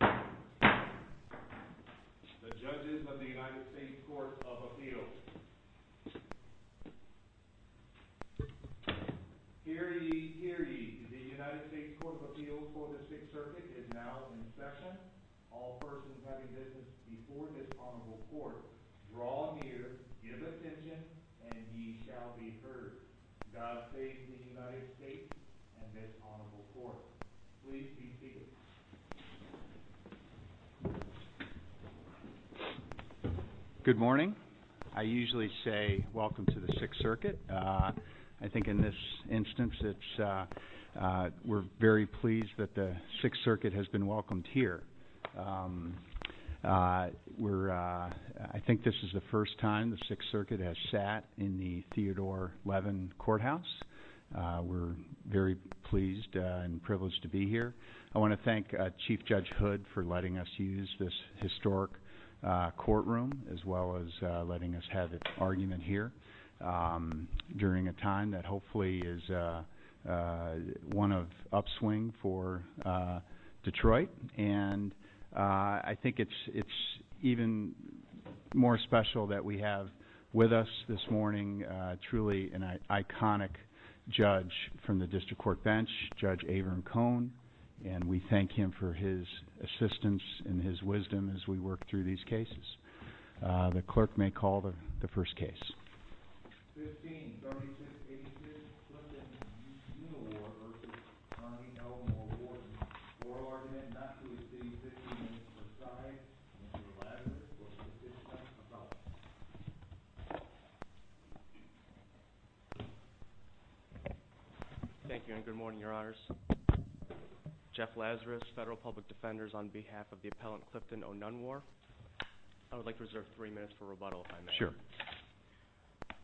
The Judges of the United States Courts of Appeals Hear ye! Hear ye! The United States Courts of Appeals for the Sixth Circuit is now in session. All persons having business before this honorable court, draw near, give attention, and ye shall be heard. God save the United States and this honorable court. Please be seated. We're very pleased and privileged to be here. I want to thank Chief Judge Hood for letting us use this historic courtroom as well as letting us have an argument here during a time that hopefully is one of upswing for Detroit. And I think it's even more special that we have with us this morning truly an iconic judge from the District Court Bench, Judge Avram Cohn, and we thank him for his assistance and his wisdom as we work through these cases. The clerk may call the first case. 1536A, Clifton v. O'Nunwar v. Connie O. Moore v. O'Rourke, oral argument not to exceed 15 minutes per side. Mr. Lazarus v. Clifton O'Nunwar Thank you and good morning, your honors. Jeff Lazarus, Federal Public Defenders on behalf of the appellant Clifton O'Nunwar. I would like to reserve three minutes for rebuttal if I may. Sure.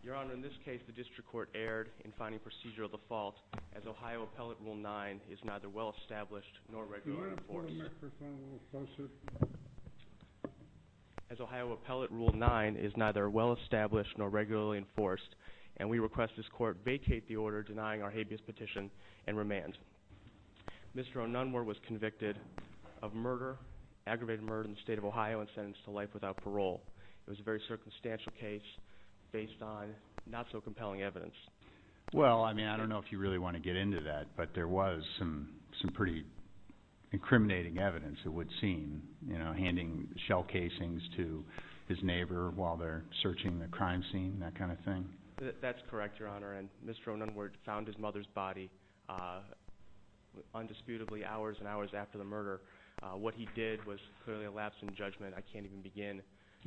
Your honor, in this case the District Court erred in finding procedure of the fault as Ohio Appellate Rule 9 is neither well established nor regularly enforced. Can we have the microphone a little closer? As Ohio Appellate Rule 9 is neither well established nor regularly enforced and we request this court vacate the order denying our habeas petition and remand. Mr. O'Nunwar was convicted of murder, aggravated murder in the state of Ohio and sentenced to life without parole. It was a very circumstantial case based on not so compelling evidence. Well, I mean, I don't know if you really want to get into that, but there was some pretty incriminating evidence it would seem, you know, handing shell casings to his neighbor while they're searching the crime scene, that kind of thing. That's correct, your honor, and Mr. O'Nunwar found his mother's body undisputably hours and hours after the murder. What he did was clearly a lapse in judgment. I can't even begin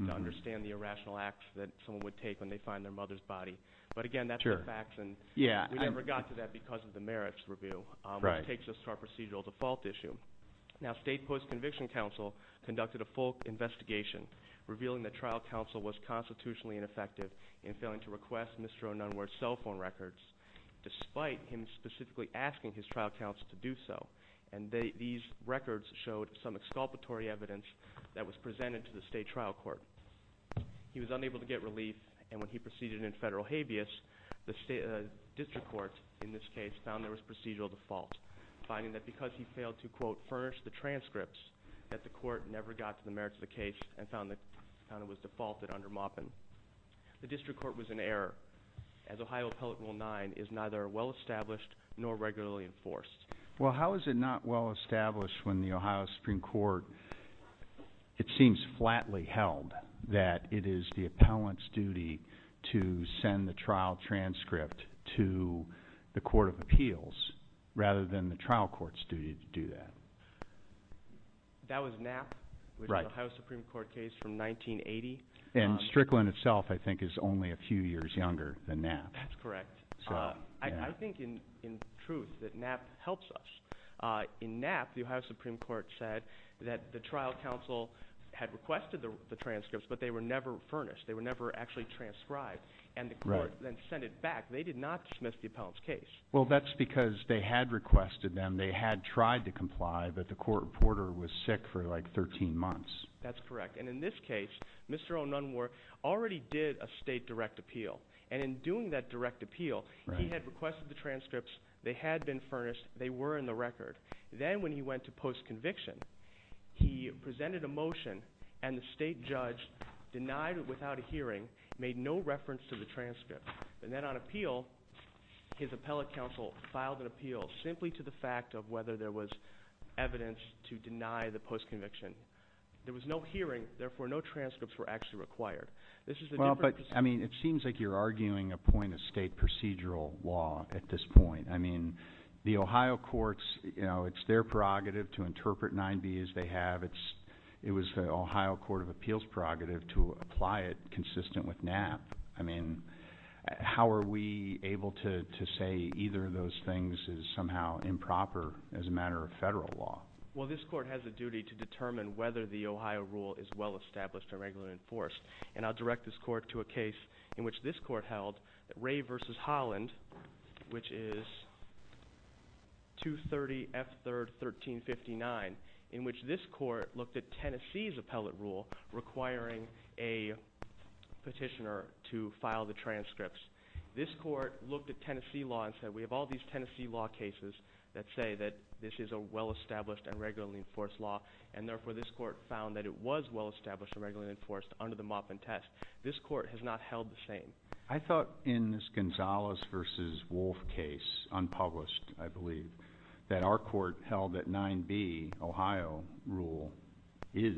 to understand the irrational acts that someone would take when they find their mother's body. But again, that's the facts, and we never got to that because of the merits review, which takes us to our procedural default issue. Now, state post-conviction counsel conducted a full investigation revealing that trial counsel was constitutionally ineffective in failing to request Mr. O'Nunwar's cell phone records, despite him specifically asking his trial counsel to do so. And these records showed some exculpatory evidence that was presented to the state trial court. He was unable to get relief, and when he proceeded in federal habeas, the district court in this case found there was procedural default, finding that because he failed to, quote, furnish the transcripts, that the court never got to the merits of the case and found it was defaulted under Maupin. The district court was in error, as Ohio Appellate Rule 9 is neither well established nor regularly enforced. Well, how is it not well established when the Ohio Supreme Court, it seems flatly held, that it is the appellant's duty to send the trial transcript to the court of appeals rather than the trial court's duty to do that? That was Knapp with the Ohio Supreme Court case from 1980. And Strickland itself I think is only a few years younger than Knapp. That's correct. I think in truth that Knapp helps us. In Knapp, the Ohio Supreme Court said that the trial counsel had requested the transcripts, but they were never furnished. They were never actually transcribed. And the court then sent it back. They did not dismiss the appellant's case. Well, that's because they had requested them. They had tried to comply, but the court reporter was sick for like 13 months. That's correct. And in this case, Mr. O'Nunwar already did a state direct appeal. And in doing that direct appeal, he had requested the transcripts. They had been furnished. They were in the record. Then when he went to postconviction, he presented a motion, and the state judge denied it without a hearing, made no reference to the transcript. And then on appeal, his appellate counsel filed an appeal simply to the fact of whether there was evidence to deny the postconviction. There was no hearing, therefore no transcripts were actually required. Well, but, I mean, it seems like you're arguing a point of state procedural law at this point. I mean, the Ohio courts, you know, it's their prerogative to interpret 9b as they have. It was the Ohio Court of Appeals' prerogative to apply it consistent with NAP. I mean, how are we able to say either of those things is somehow improper as a matter of federal law? Well, this court has a duty to determine whether the Ohio rule is well-established or regularly enforced. And I'll direct this court to a case in which this court held, Ray v. Holland, which is 230 F. 3rd, 1359, in which this court looked at Tennessee's appellate rule requiring a petitioner to file the transcripts. This court looked at Tennessee law and said, we have all these Tennessee law cases that say that this is a well-established and regularly enforced law. And, therefore, this court found that it was well-established and regularly enforced under the Maupin test. This court has not held the same. I thought in this Gonzalez v. Wolf case, unpublished, I believe, that our court held that 9b, Ohio rule, is,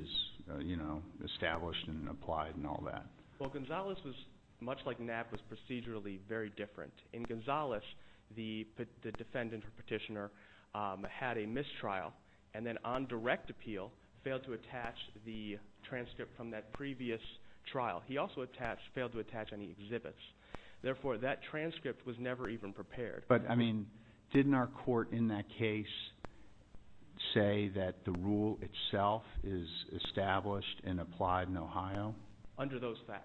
you know, established and applied and all that. Well, Gonzalez was, much like NAP, was procedurally very different. In Gonzalez, the defendant or petitioner had a mistrial and then on direct appeal failed to attach the transcript from that previous trial. He also failed to attach any exhibits. Therefore, that transcript was never even prepared. But, I mean, didn't our court in that case say that the rule itself is established and applied in Ohio? Under those facts.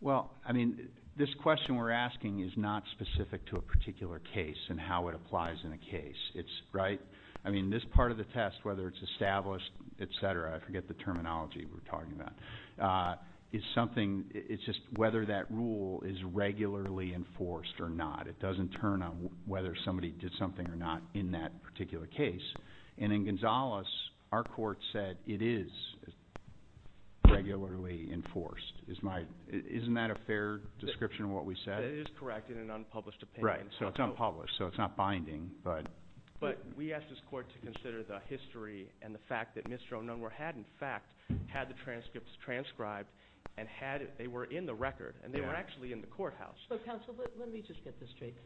Well, I mean, this question we're asking is not specific to a particular case and how it applies in a case. It's, right, I mean, this part of the test, whether it's established, et cetera, I forget the terminology we're talking about, is something, it's just whether that rule is regularly enforced or not. It doesn't turn on whether somebody did something or not in that particular case. And in Gonzalez, our court said it is regularly enforced. Isn't that a fair description of what we said? It is correct in an unpublished opinion. Right, so it's unpublished, so it's not binding. But we asked this court to consider the history and the fact that Mr. O'Nunwar had, in fact, had the transcripts transcribed and they were in the record and they were actually in the courthouse. So, counsel, let me just get this straight.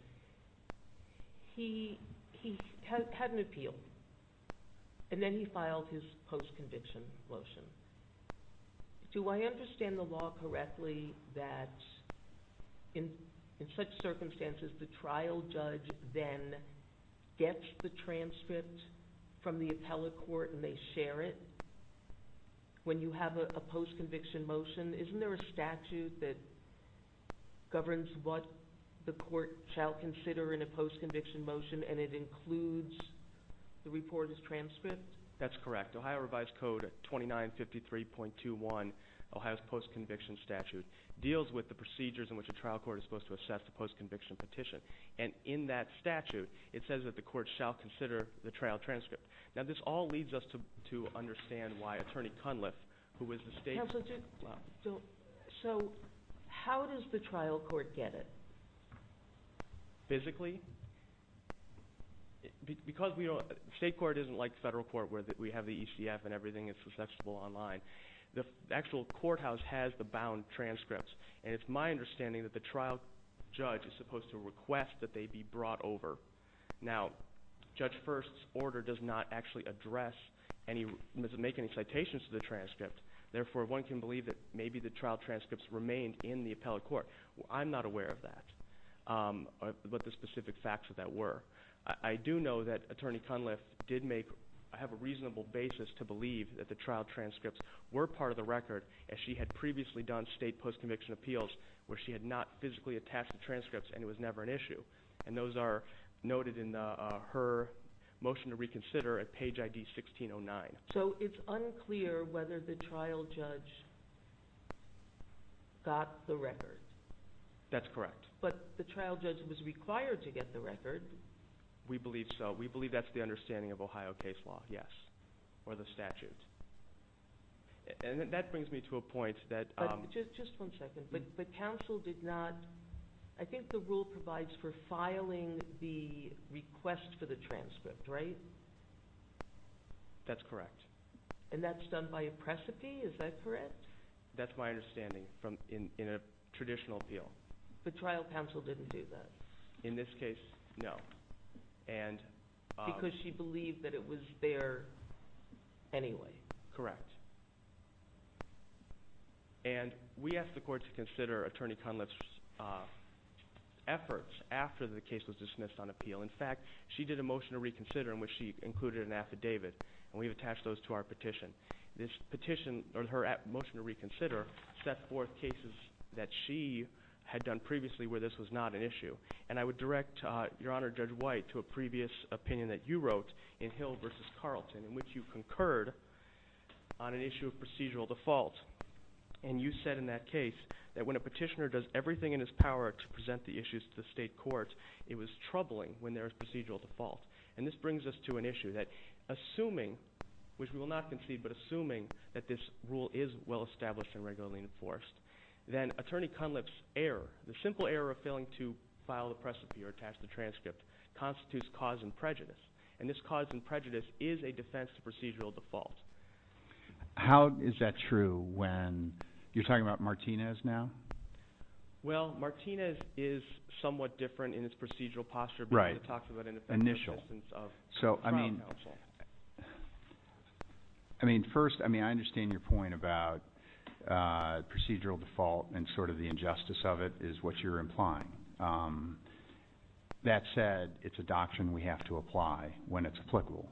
He had an appeal and then he filed his post-conviction motion. Do I understand the law correctly that in such circumstances the trial judge then gets the transcript from the appellate court and they share it when you have a post-conviction motion? Isn't there a statute that governs what the court shall consider in a post-conviction motion and it includes the reporter's transcript? That's correct. Ohio Revised Code 2953.21, Ohio's post-conviction statute, deals with the procedures in which a trial court is supposed to assess the post-conviction petition. And in that statute, it says that the court shall consider the trial transcript. Now, this all leads us to understand why Attorney Cunliffe, who is the state's – Counsel, so how does the trial court get it? Physically? Because state court isn't like federal court where we have the ECF and everything is accessible online. The actual courthouse has the bound transcripts. And it's my understanding that the trial judge is supposed to request that they be brought over. Now, Judge First's order does not actually address any – make any citations to the transcript. Therefore, one can believe that maybe the trial transcripts remained in the appellate court. I'm not aware of that, but the specific facts of that were. I do know that Attorney Cunliffe did make – have a reasonable basis to believe that the trial transcripts were part of the record as she had previously done state post-conviction appeals where she had not physically attached the transcripts and it was never an issue. And those are noted in her motion to reconsider at page ID 1609. So it's unclear whether the trial judge got the record? That's correct. But the trial judge was required to get the record. We believe so. We believe that's the understanding of Ohio case law, yes, or the statute. And that brings me to a point that – You're filing the request for the transcript, right? That's correct. And that's done by a precipice? Is that correct? That's my understanding in a traditional appeal. The trial counsel didn't do that? In this case, no. Because she believed that it was there anyway. Correct. And we asked the court to consider Attorney Cunliffe's efforts after the case was dismissed on appeal. In fact, she did a motion to reconsider in which she included an affidavit, and we've attached those to our petition. Her motion to reconsider set forth cases that she had done previously where this was not an issue. And I would direct Your Honor, Judge White, to a previous opinion that you wrote in Hill v. Carlton in which you concurred on an issue of procedural default. And you said in that case that when a petitioner does everything in his power to present the issues to the state court, it was troubling when there was procedural default. And this brings us to an issue that assuming – which we will not concede – but assuming that this rule is well established and regularly enforced, then Attorney Cunliffe's error, the simple error of failing to file the precipice or attach the transcript, constitutes cause and prejudice. And this cause and prejudice is a defense to procedural default. How is that true when you're talking about Martinez now? Well, Martinez is somewhat different in its procedural posture because it talks about an effective assistance from counsel. I mean, first, I understand your point about procedural default and sort of the injustice of it is what you're implying. That said, it's a doctrine we have to apply when it's applicable.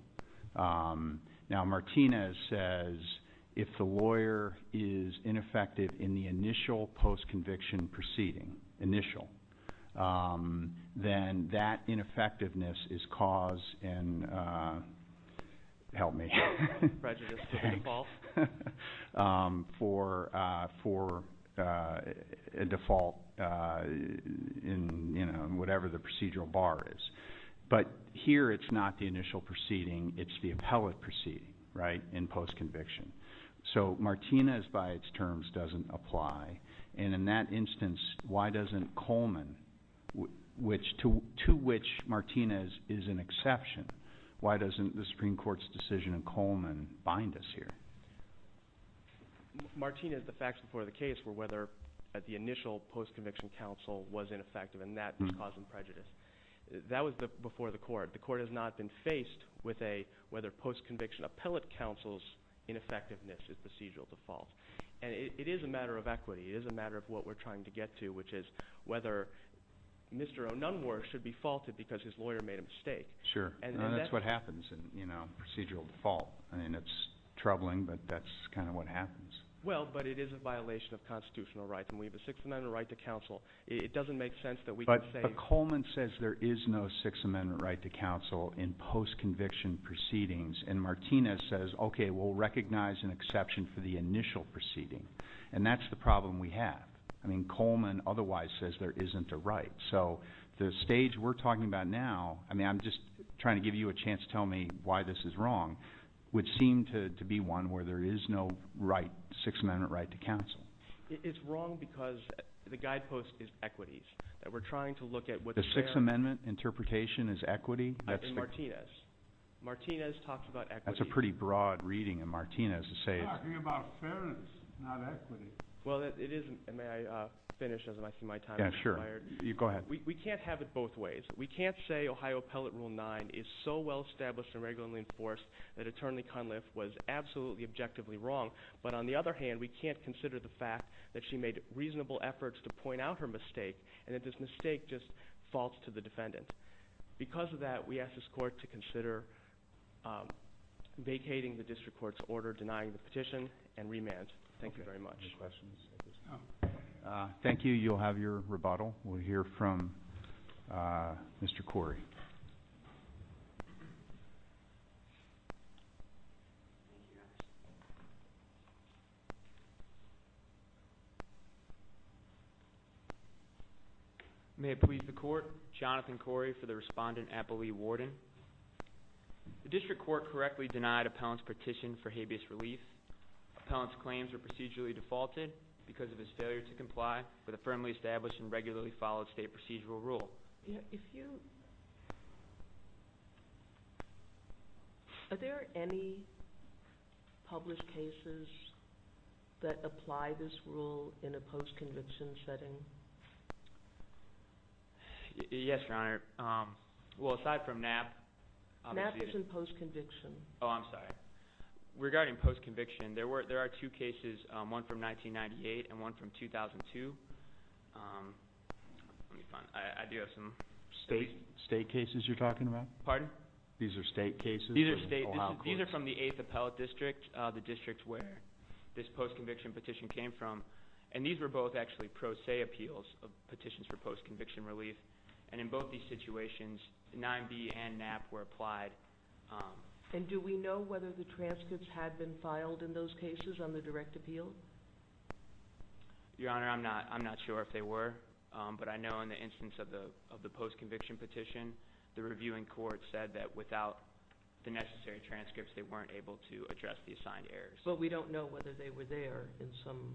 Now, Martinez says if the lawyer is ineffective in the initial post-conviction proceeding, initial, then that ineffectiveness is cause and – help me. Prejudice to the default. For a default in whatever the procedural bar is. But here it's not the initial proceeding. It's the appellate proceeding, right, in post-conviction. So Martinez by its terms doesn't apply. And in that instance, why doesn't Coleman, to which Martinez is an exception, why doesn't the Supreme Court's decision in Coleman bind us here? Martinez, the facts before the case were whether the initial post-conviction counsel was ineffective, and that was cause and prejudice. That was before the court. The court has not been faced with a whether post-conviction appellate counsel's ineffectiveness is procedural default. And it is a matter of equity. It is a matter of what we're trying to get to, which is whether Mr. O'Nunwar should be faulted because his lawyer made a mistake. Sure, and that's what happens in procedural default. I mean, it's troubling, but that's kind of what happens. Well, but it is a violation of constitutional rights, and we have a Sixth Amendment right to counsel. It doesn't make sense that we can say – But Coleman says there is no Sixth Amendment right to counsel in post-conviction proceedings, and Martinez says, okay, we'll recognize an exception for the initial proceeding, and that's the problem we have. I mean, Coleman otherwise says there isn't a right. So the stage we're talking about now, I mean, I'm just trying to give you a chance to tell me why this is wrong, would seem to be one where there is no right, Sixth Amendment right to counsel. It's wrong because the guidepost is equities, that we're trying to look at what's there. The Sixth Amendment interpretation is equity? In Martinez. Martinez talks about equity. That's a pretty broad reading in Martinez to say – We're talking about fairness, not equity. Well, it is – may I finish as I see my time is expired? Yeah, sure. Go ahead. We can't have it both ways. We can't say Ohio Appellate Rule 9 is so well-established and regularly enforced that Eternally Cunliffe was absolutely objectively wrong, but on the other hand, we can't consider the fact that she made reasonable efforts to point out her mistake, and that this mistake just falls to the defendant. Because of that, we ask this court to consider vacating the district court's order denying the petition and remand. Thank you very much. Thank you. You'll have your rebuttal. We'll hear from Mr. Corey. May it please the Court, Jonathan Corey for the respondent, Apple Lee Warden. The district court correctly denied appellant's petition for habeas relief. Appellant's claims were procedurally defaulted because of his failure to comply with a firmly established and regularly followed state procedural rule. I'm sorry. I'm sorry. I'm sorry. Are there any published cases that apply this rule in a post-conviction setting? Yes, Your Honor. Well, aside from Knapp. Knapp is in post-conviction. Oh, I'm sorry. Regarding post-conviction, there are two cases, one from 1998 and one from 2002. Let me find it. I do have some. State cases you're talking about? Pardon? These are state cases? These are state. These are from the 8th Appellate District, the district where this post-conviction petition came from. And these were both actually pro se appeals of petitions for post-conviction relief. And in both these situations, 9B and Knapp were applied. And do we know whether the transcripts had been filed in those cases on the direct appeal? Your Honor, I'm not sure if they were. But I know in the instance of the post-conviction petition, the reviewing court said that without the necessary transcripts, they weren't able to address the assigned errors. But we don't know whether they were there in some.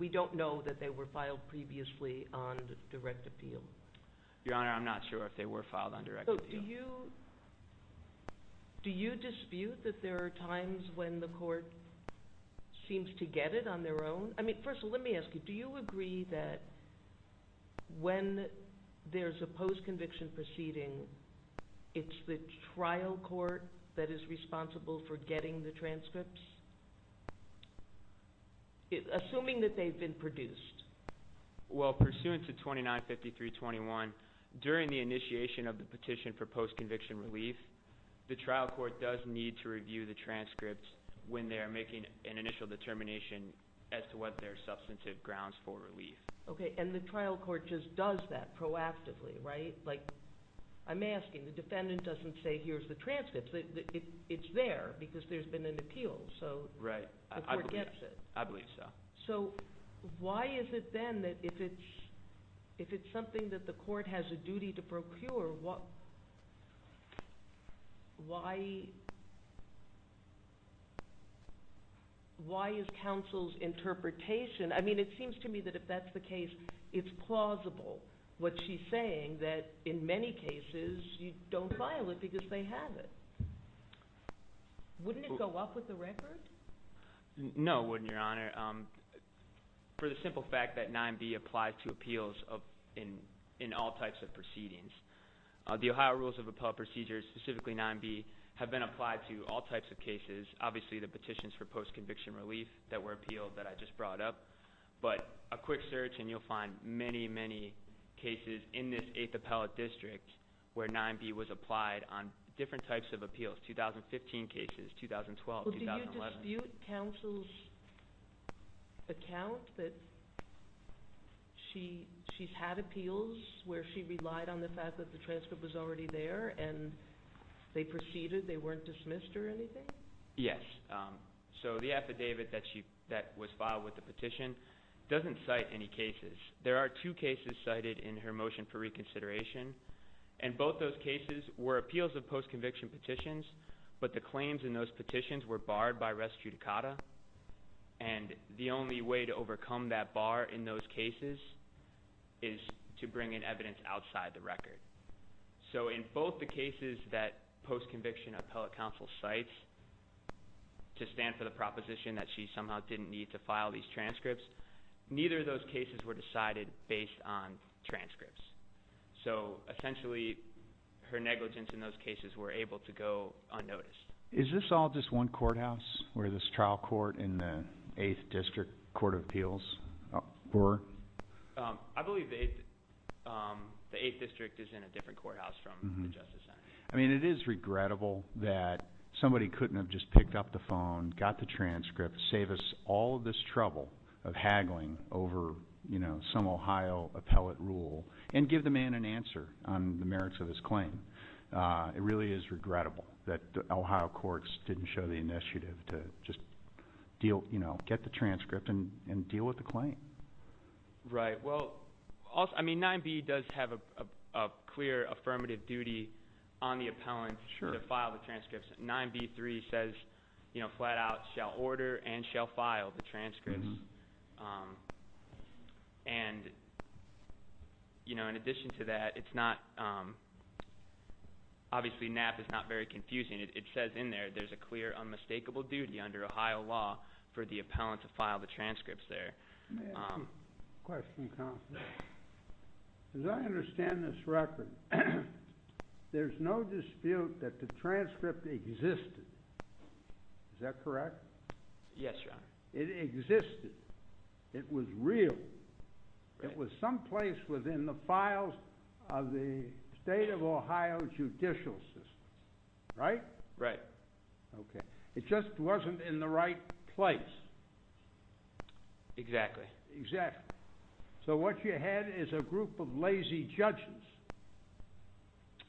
We don't know that they were filed previously on direct appeal. Your Honor, I'm not sure if they were filed on direct appeal. Do you dispute that there are times when the court seems to get it on their own? I mean, first of all, let me ask you, do you agree that when there's a post-conviction proceeding, it's the trial court that is responsible for getting the transcripts, assuming that they've been produced? Well, pursuant to 2953.21, during the initiation of the petition for post-conviction relief, the trial court does need to review the transcripts when they are making an initial determination as to what their substantive grounds for relief. Okay, and the trial court just does that proactively, right? Like, I'm asking, the defendant doesn't say, here's the transcripts. It's there because there's been an appeal. So the court gets it. I believe so. So why is it then that if it's something that the court has a duty to procure, why is counsel's interpretation – I mean, it seems to me that if that's the case, it's plausible what she's saying, that in many cases you don't file it because they have it. Wouldn't it go up with the record? No, it wouldn't, Your Honor. For the simple fact that 9B applies to appeals in all types of proceedings, the Ohio Rules of Appellate Procedures, specifically 9B, have been applied to all types of cases. Obviously, the petitions for post-conviction relief that were appealed that I just brought up, but a quick search and you'll find many, many cases in this 8th Appellate District where 9B was applied on different types of appeals, 2015 cases, 2012, 2011. Well, do you dispute counsel's account that she's had appeals where she relied on the fact that the transcript was already there and they proceeded, they weren't dismissed or anything? Yes. So the affidavit that was filed with the petition doesn't cite any cases. There are two cases cited in her motion for reconsideration, and both those cases were appeals of post-conviction petitions, but the claims in those petitions were barred by res judicata, and the only way to overcome that bar in those cases is to bring in evidence outside the record. So in both the cases that post-conviction appellate counsel cites to stand for the proposition that she somehow didn't need to file these transcripts, neither of those cases were decided based on transcripts. So essentially her negligence in those cases were able to go unnoticed. Is this all just one courthouse where this trial court in the 8th District Court of Appeals were? I believe the 8th District is in a different courthouse from the Justice Center. I mean it is regrettable that somebody couldn't have just picked up the phone, got the transcript, saved us all this trouble of haggling over some Ohio appellate rule and give the man an answer on the merits of his claim. It really is regrettable that the Ohio courts didn't show the initiative to just get the transcript and deal with the claim. Right. Well, I mean 9b does have a clear affirmative duty on the appellant to file the transcripts. 9b-3 says flat out shall order and shall file the transcripts. And in addition to that, obviously NAP is not very confusing. It says in there there is a clear unmistakable duty under Ohio law for the appellant to file the transcripts there. As I understand this record, there is no dispute that the transcript existed. Is that correct? Yes, Your Honor. It existed. It was real. It was someplace within the files of the state of Ohio judicial system. Right? Right. Okay. It just wasn't in the right place. Exactly. So what you had is a group of lazy judges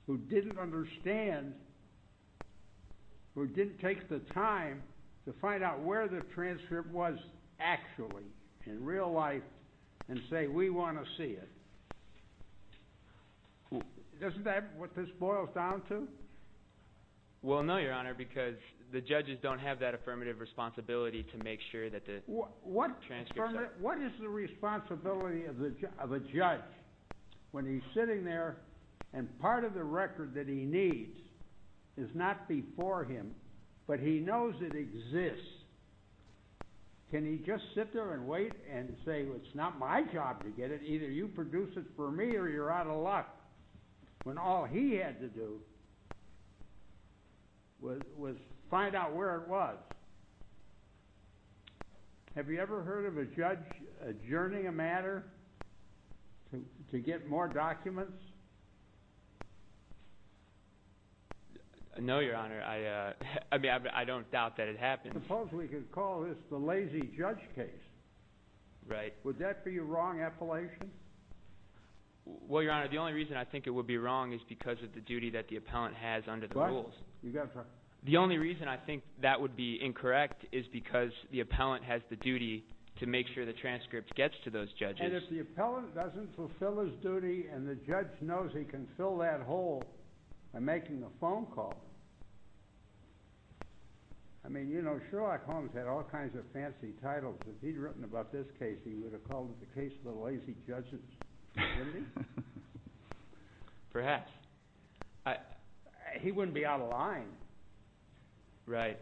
who didn't understand, who didn't take the time to find out where the transcript was actually in real life and say we want to see it. Isn't that what this boils down to? Well, no, Your Honor, because the judges don't have that affirmative responsibility to make sure that the transcripts are- What is the responsibility of a judge when he's sitting there and part of the record that he needs is not before him, but he knows it exists? Can he just sit there and wait and say it's not my job to get it, either you produce it for me or you're out of luck when all he had to do was find out where it was? Have you ever heard of a judge adjourning a matter to get more documents? No, Your Honor. I don't doubt that it happened. I suppose we could call this the lazy judge case. Right. Would that be a wrong appellation? Well, Your Honor, the only reason I think it would be wrong is because of the duty that the appellant has under the rules. The only reason I think that would be incorrect is because the appellant has the duty to make sure the transcript gets to those judges. And if the appellant doesn't fulfill his duty and the judge knows he can fill that hole by making a phone call, I mean, you know, Sherlock Holmes had all kinds of fancy titles. If he'd written about this case, he would have called it the case of the lazy judges. Wouldn't he? Perhaps. He wouldn't be out of line. Right.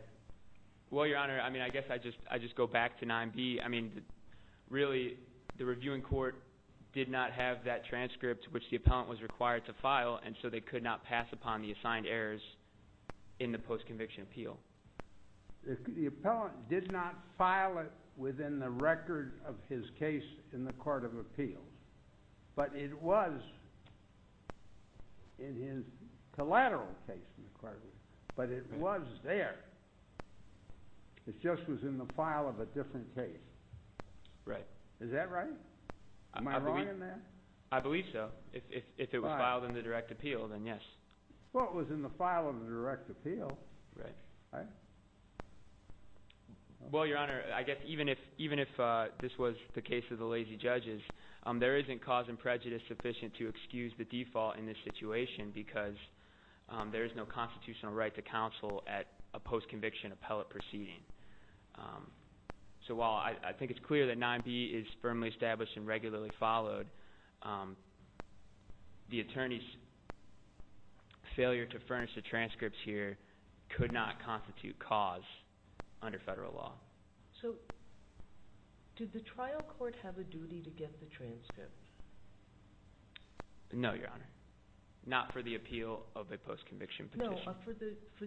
Well, Your Honor, I mean, I guess I just go back to 9B. Really, the reviewing court did not have that transcript which the appellant was required to file, and so they could not pass upon the assigned errors in the post-conviction appeal. The appellant did not file it within the record of his case in the court of appeals. But it was in his collateral case in the court of appeals. But it was there. It just was in the file of a different case. Right. Is that right? Am I wrong in that? I believe so. If it was filed in the direct appeal, then yes. Well, it was in the file of the direct appeal. Right. Well, Your Honor, I guess even if this was the case of the lazy judges, there isn't cause and prejudice sufficient to excuse the default in this situation because there is no constitutional right to counsel at a post-conviction appellate proceeding. So while I think it's clear that 9B is firmly established and regularly followed, the attorney's failure to furnish the transcripts here could not constitute cause under federal law. So did the trial court have a duty to get the transcript? No, Your Honor. Not for the appeal of a post-conviction petition? No, for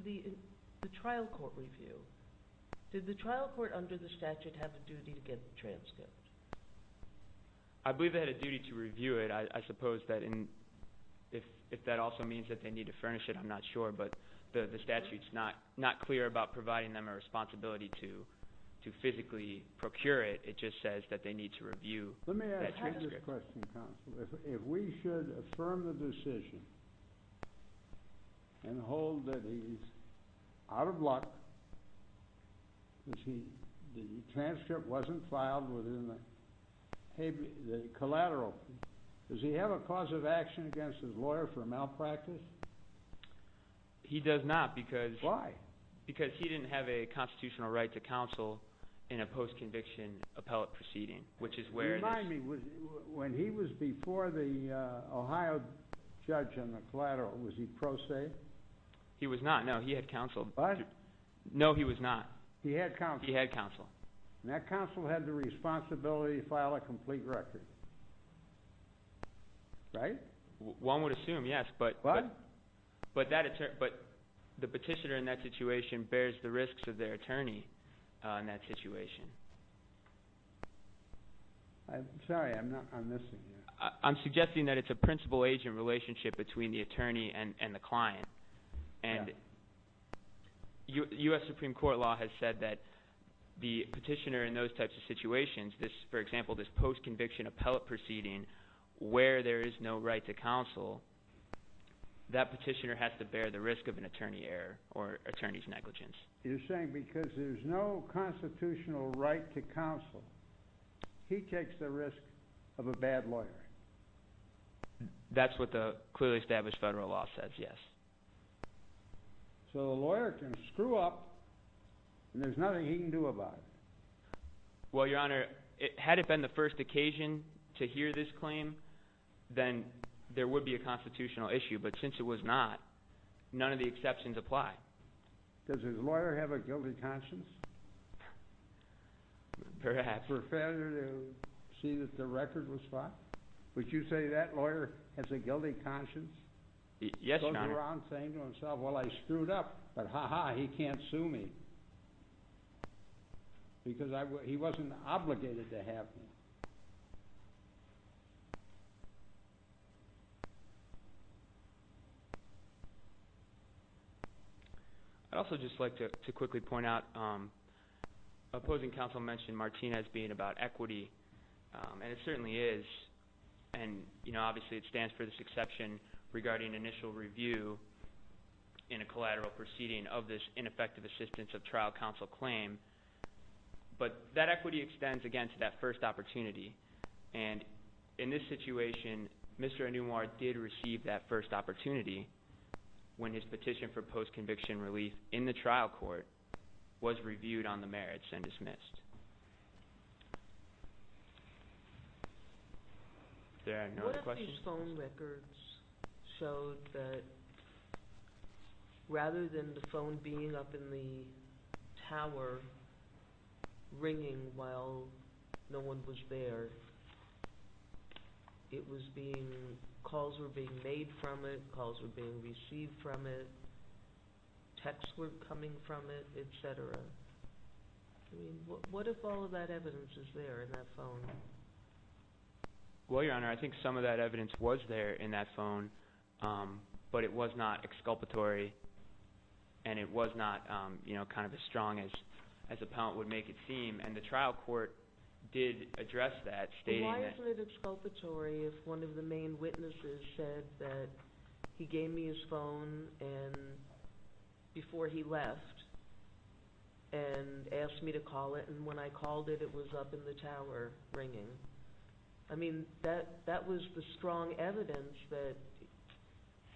the trial court review. Did the trial court under the statute have a duty to get the transcript? I believe they had a duty to review it. I suppose that if that also means that they need to furnish it, I'm not sure. But the statute is not clear about providing them a responsibility to physically procure it. It just says that they need to review that transcript. Let me ask you this question, counsel. If we should affirm the decision and hold that he's out of luck, that the transcript wasn't filed within the collateral, does he have a cause of action against his lawyer for malpractice? He does not because he didn't have a constitutional right to counsel in a post-conviction appellate proceeding, which is where it is. When he was before the Ohio judge on the collateral, was he pro se? He was not. No, he had counsel. What? No, he was not. He had counsel. He had counsel. And that counsel had the responsibility to file a complete record, right? One would assume, yes. But the petitioner in that situation bears the risks of their attorney in that situation. I'm sorry. I'm missing you. I'm suggesting that it's a principal agent relationship between the attorney and the client. And U.S. Supreme Court law has said that the petitioner in those types of situations, for example, this post-conviction appellate proceeding where there is no right to counsel, that petitioner has to bear the risk of an attorney error or attorney's negligence. You're saying because there's no constitutional right to counsel, he takes the risk of a bad lawyer. That's what the clearly established federal law says, yes. So the lawyer can screw up and there's nothing he can do about it. Well, Your Honor, had it been the first occasion to hear this claim, then there would be a constitutional issue. But since it was not, none of the exceptions apply. Does his lawyer have a guilty conscience? Perhaps. For failure to see that the record was fought? Would you say that lawyer has a guilty conscience? Yes, Your Honor. He goes around saying to himself, well, I screwed up, but ha-ha, he can't sue me because he wasn't obligated to have me. I'd also just like to quickly point out opposing counsel mentioned Martinez being about equity, and it certainly is. And, you know, obviously it stands for this exception regarding initial review in a collateral proceeding of this ineffective assistance of trial counsel claim. But that equity extends, again, to that first opportunity. And in this situation, Mr. Anumar did receive that first opportunity when his petition for post-conviction relief in the trial court was reviewed on the merits and dismissed. What if these phone records showed that rather than the phone being up in the tower ringing while no one was there, it was being – calls were being made from it, calls were being received from it, texts were coming from it, etc.? I mean, what if all of that evidence is there in that phone? Well, Your Honor, I think some of that evidence was there in that phone, but it was not exculpatory and it was not, you know, kind of as strong as appellant would make it seem. And the trial court did address that, stating that – One of the main witnesses said that he gave me his phone before he left and asked me to call it, and when I called it, it was up in the tower ringing. I mean, that was the strong evidence that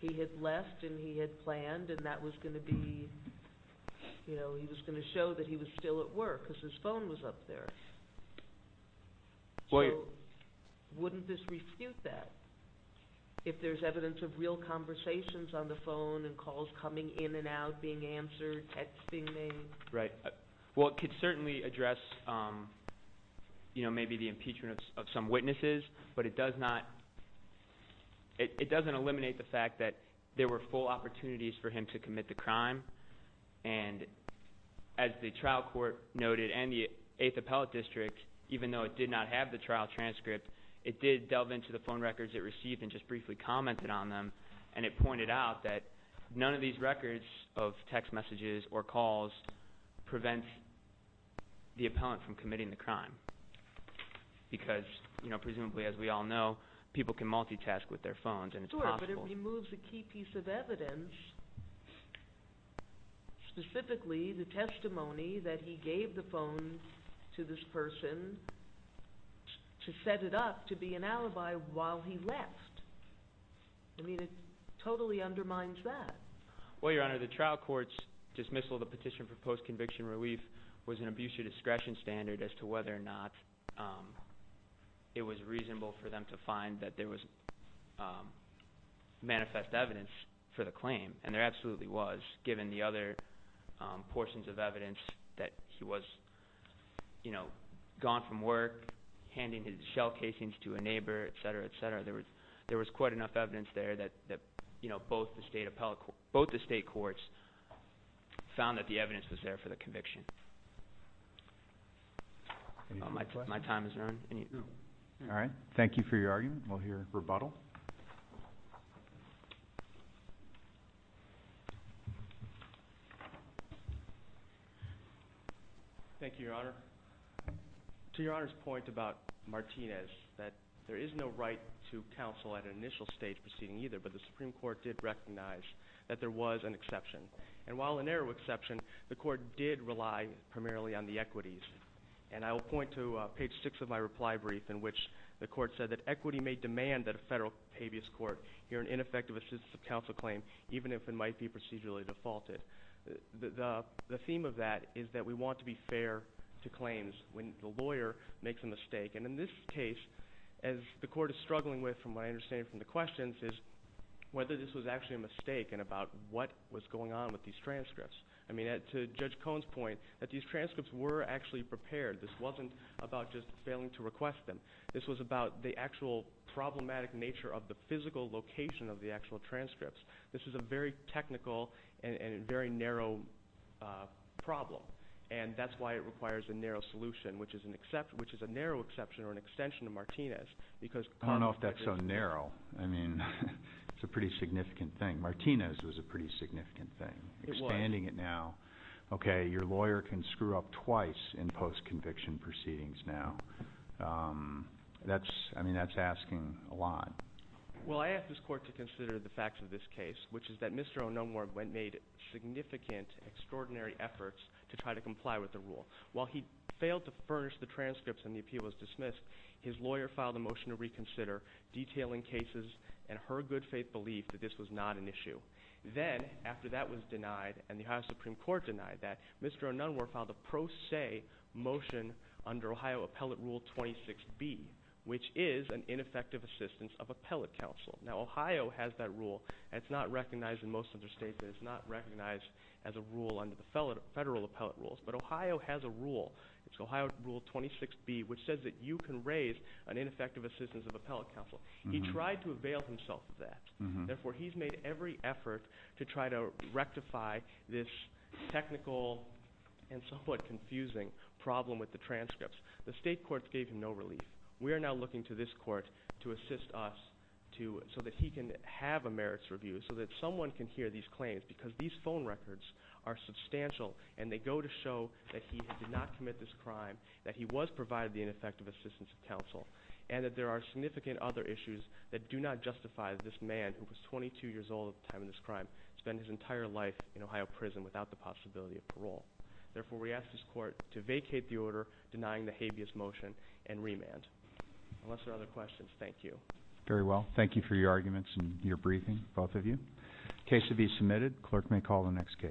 he had left and he had planned, and that was going to be – you know, he was going to show that he was still at work because his phone was up there. So wouldn't this refute that if there's evidence of real conversations on the phone and calls coming in and out, being answered, texting made? Right. Well, it could certainly address, you know, maybe the impeachment of some witnesses, but it does not – it doesn't eliminate the fact that there were full opportunities for him to commit the crime. And as the trial court noted, and the Eighth Appellate District, even though it did not have the trial transcript, it did delve into the phone records it received and just briefly commented on them. And it pointed out that none of these records of text messages or calls prevents the appellant from committing the crime because, you know, presumably as we all know, people can multitask with their phones and it's possible. But it removes a key piece of evidence, specifically the testimony that he gave the phone to this person to set it up to be an alibi while he left. I mean, it totally undermines that. Well, Your Honor, the trial court's dismissal of the petition for post-conviction relief was an abuse of discretion standard as to whether or not it was reasonable for them to find that there was manifest evidence for the claim. And there absolutely was, given the other portions of evidence that he was, you know, gone from work, handing his shell casings to a neighbor, etc., etc. There was quite enough evidence there that, you know, both the state courts found that the evidence was there for the conviction. My time has run. All right. Thank you for your argument. We'll hear rebuttal. Thank you, Your Honor. To Your Honor's point about Martinez, that there is no right to counsel at an initial stage proceeding either, but the Supreme Court did recognize that there was an exception. And while a narrow exception, the court did rely primarily on the equities. And I will point to page 6 of my reply brief in which the court said that equity may demand that a federal habeas court hear an ineffective assistance of counsel claim even if it might be procedurally defaulted. The theme of that is that we want to be fair to claims when the lawyer makes a mistake. And in this case, as the court is struggling with, from what I understand from the questions, is whether this was actually a mistake and about what was going on with these transcripts. I mean, to Judge Cohn's point, that these transcripts were actually prepared. This wasn't about just failing to request them. This was about the actual problematic nature of the physical location of the actual transcripts. This is a very technical and a very narrow problem, and that's why it requires a narrow solution, which is a narrow exception or an extension of Martinez. I don't know if that's so narrow. I mean, it's a pretty significant thing. Martinez was a pretty significant thing. It was. Expanding it now. Okay, your lawyer can screw up twice in post-conviction proceedings now. I mean, that's asking a lot. Well, I asked this court to consider the facts of this case, which is that Mr. O'Nunwar made significant, extraordinary efforts to try to comply with the rule. While he failed to furnish the transcripts and the appeal was dismissed, his lawyer filed a motion to reconsider detailing cases and her good faith belief that this was not an issue. Then, after that was denied and the Ohio Supreme Court denied that, Mr. O'Nunwar filed a pro se motion under Ohio Appellate Rule 26B, which is an ineffective assistance of appellate counsel. Now, Ohio has that rule. It's not recognized in most other states. It's not recognized as a rule under the federal appellate rules, but Ohio has a rule. It's Ohio Rule 26B, which says that you can raise an ineffective assistance of appellate counsel. He tried to avail himself of that. Therefore, he's made every effort to try to rectify this technical and somewhat confusing problem with the transcripts. The state courts gave him no relief. We are now looking to this court to assist us so that he can have a merits review so that someone can hear these claims because these phone records are substantial, and they go to show that he did not commit this crime, that he was provided the ineffective assistance of counsel, and that there are significant other issues that do not justify this man, who was 22 years old at the time of this crime, spend his entire life in Ohio prison without the possibility of parole. Therefore, we ask this court to vacate the order denying the habeas motion and remand. Unless there are other questions, thank you. Very well. Thank you for your arguments and your briefing, both of you. Case to be submitted. Clerk may call the next case. Case number 16, 4165.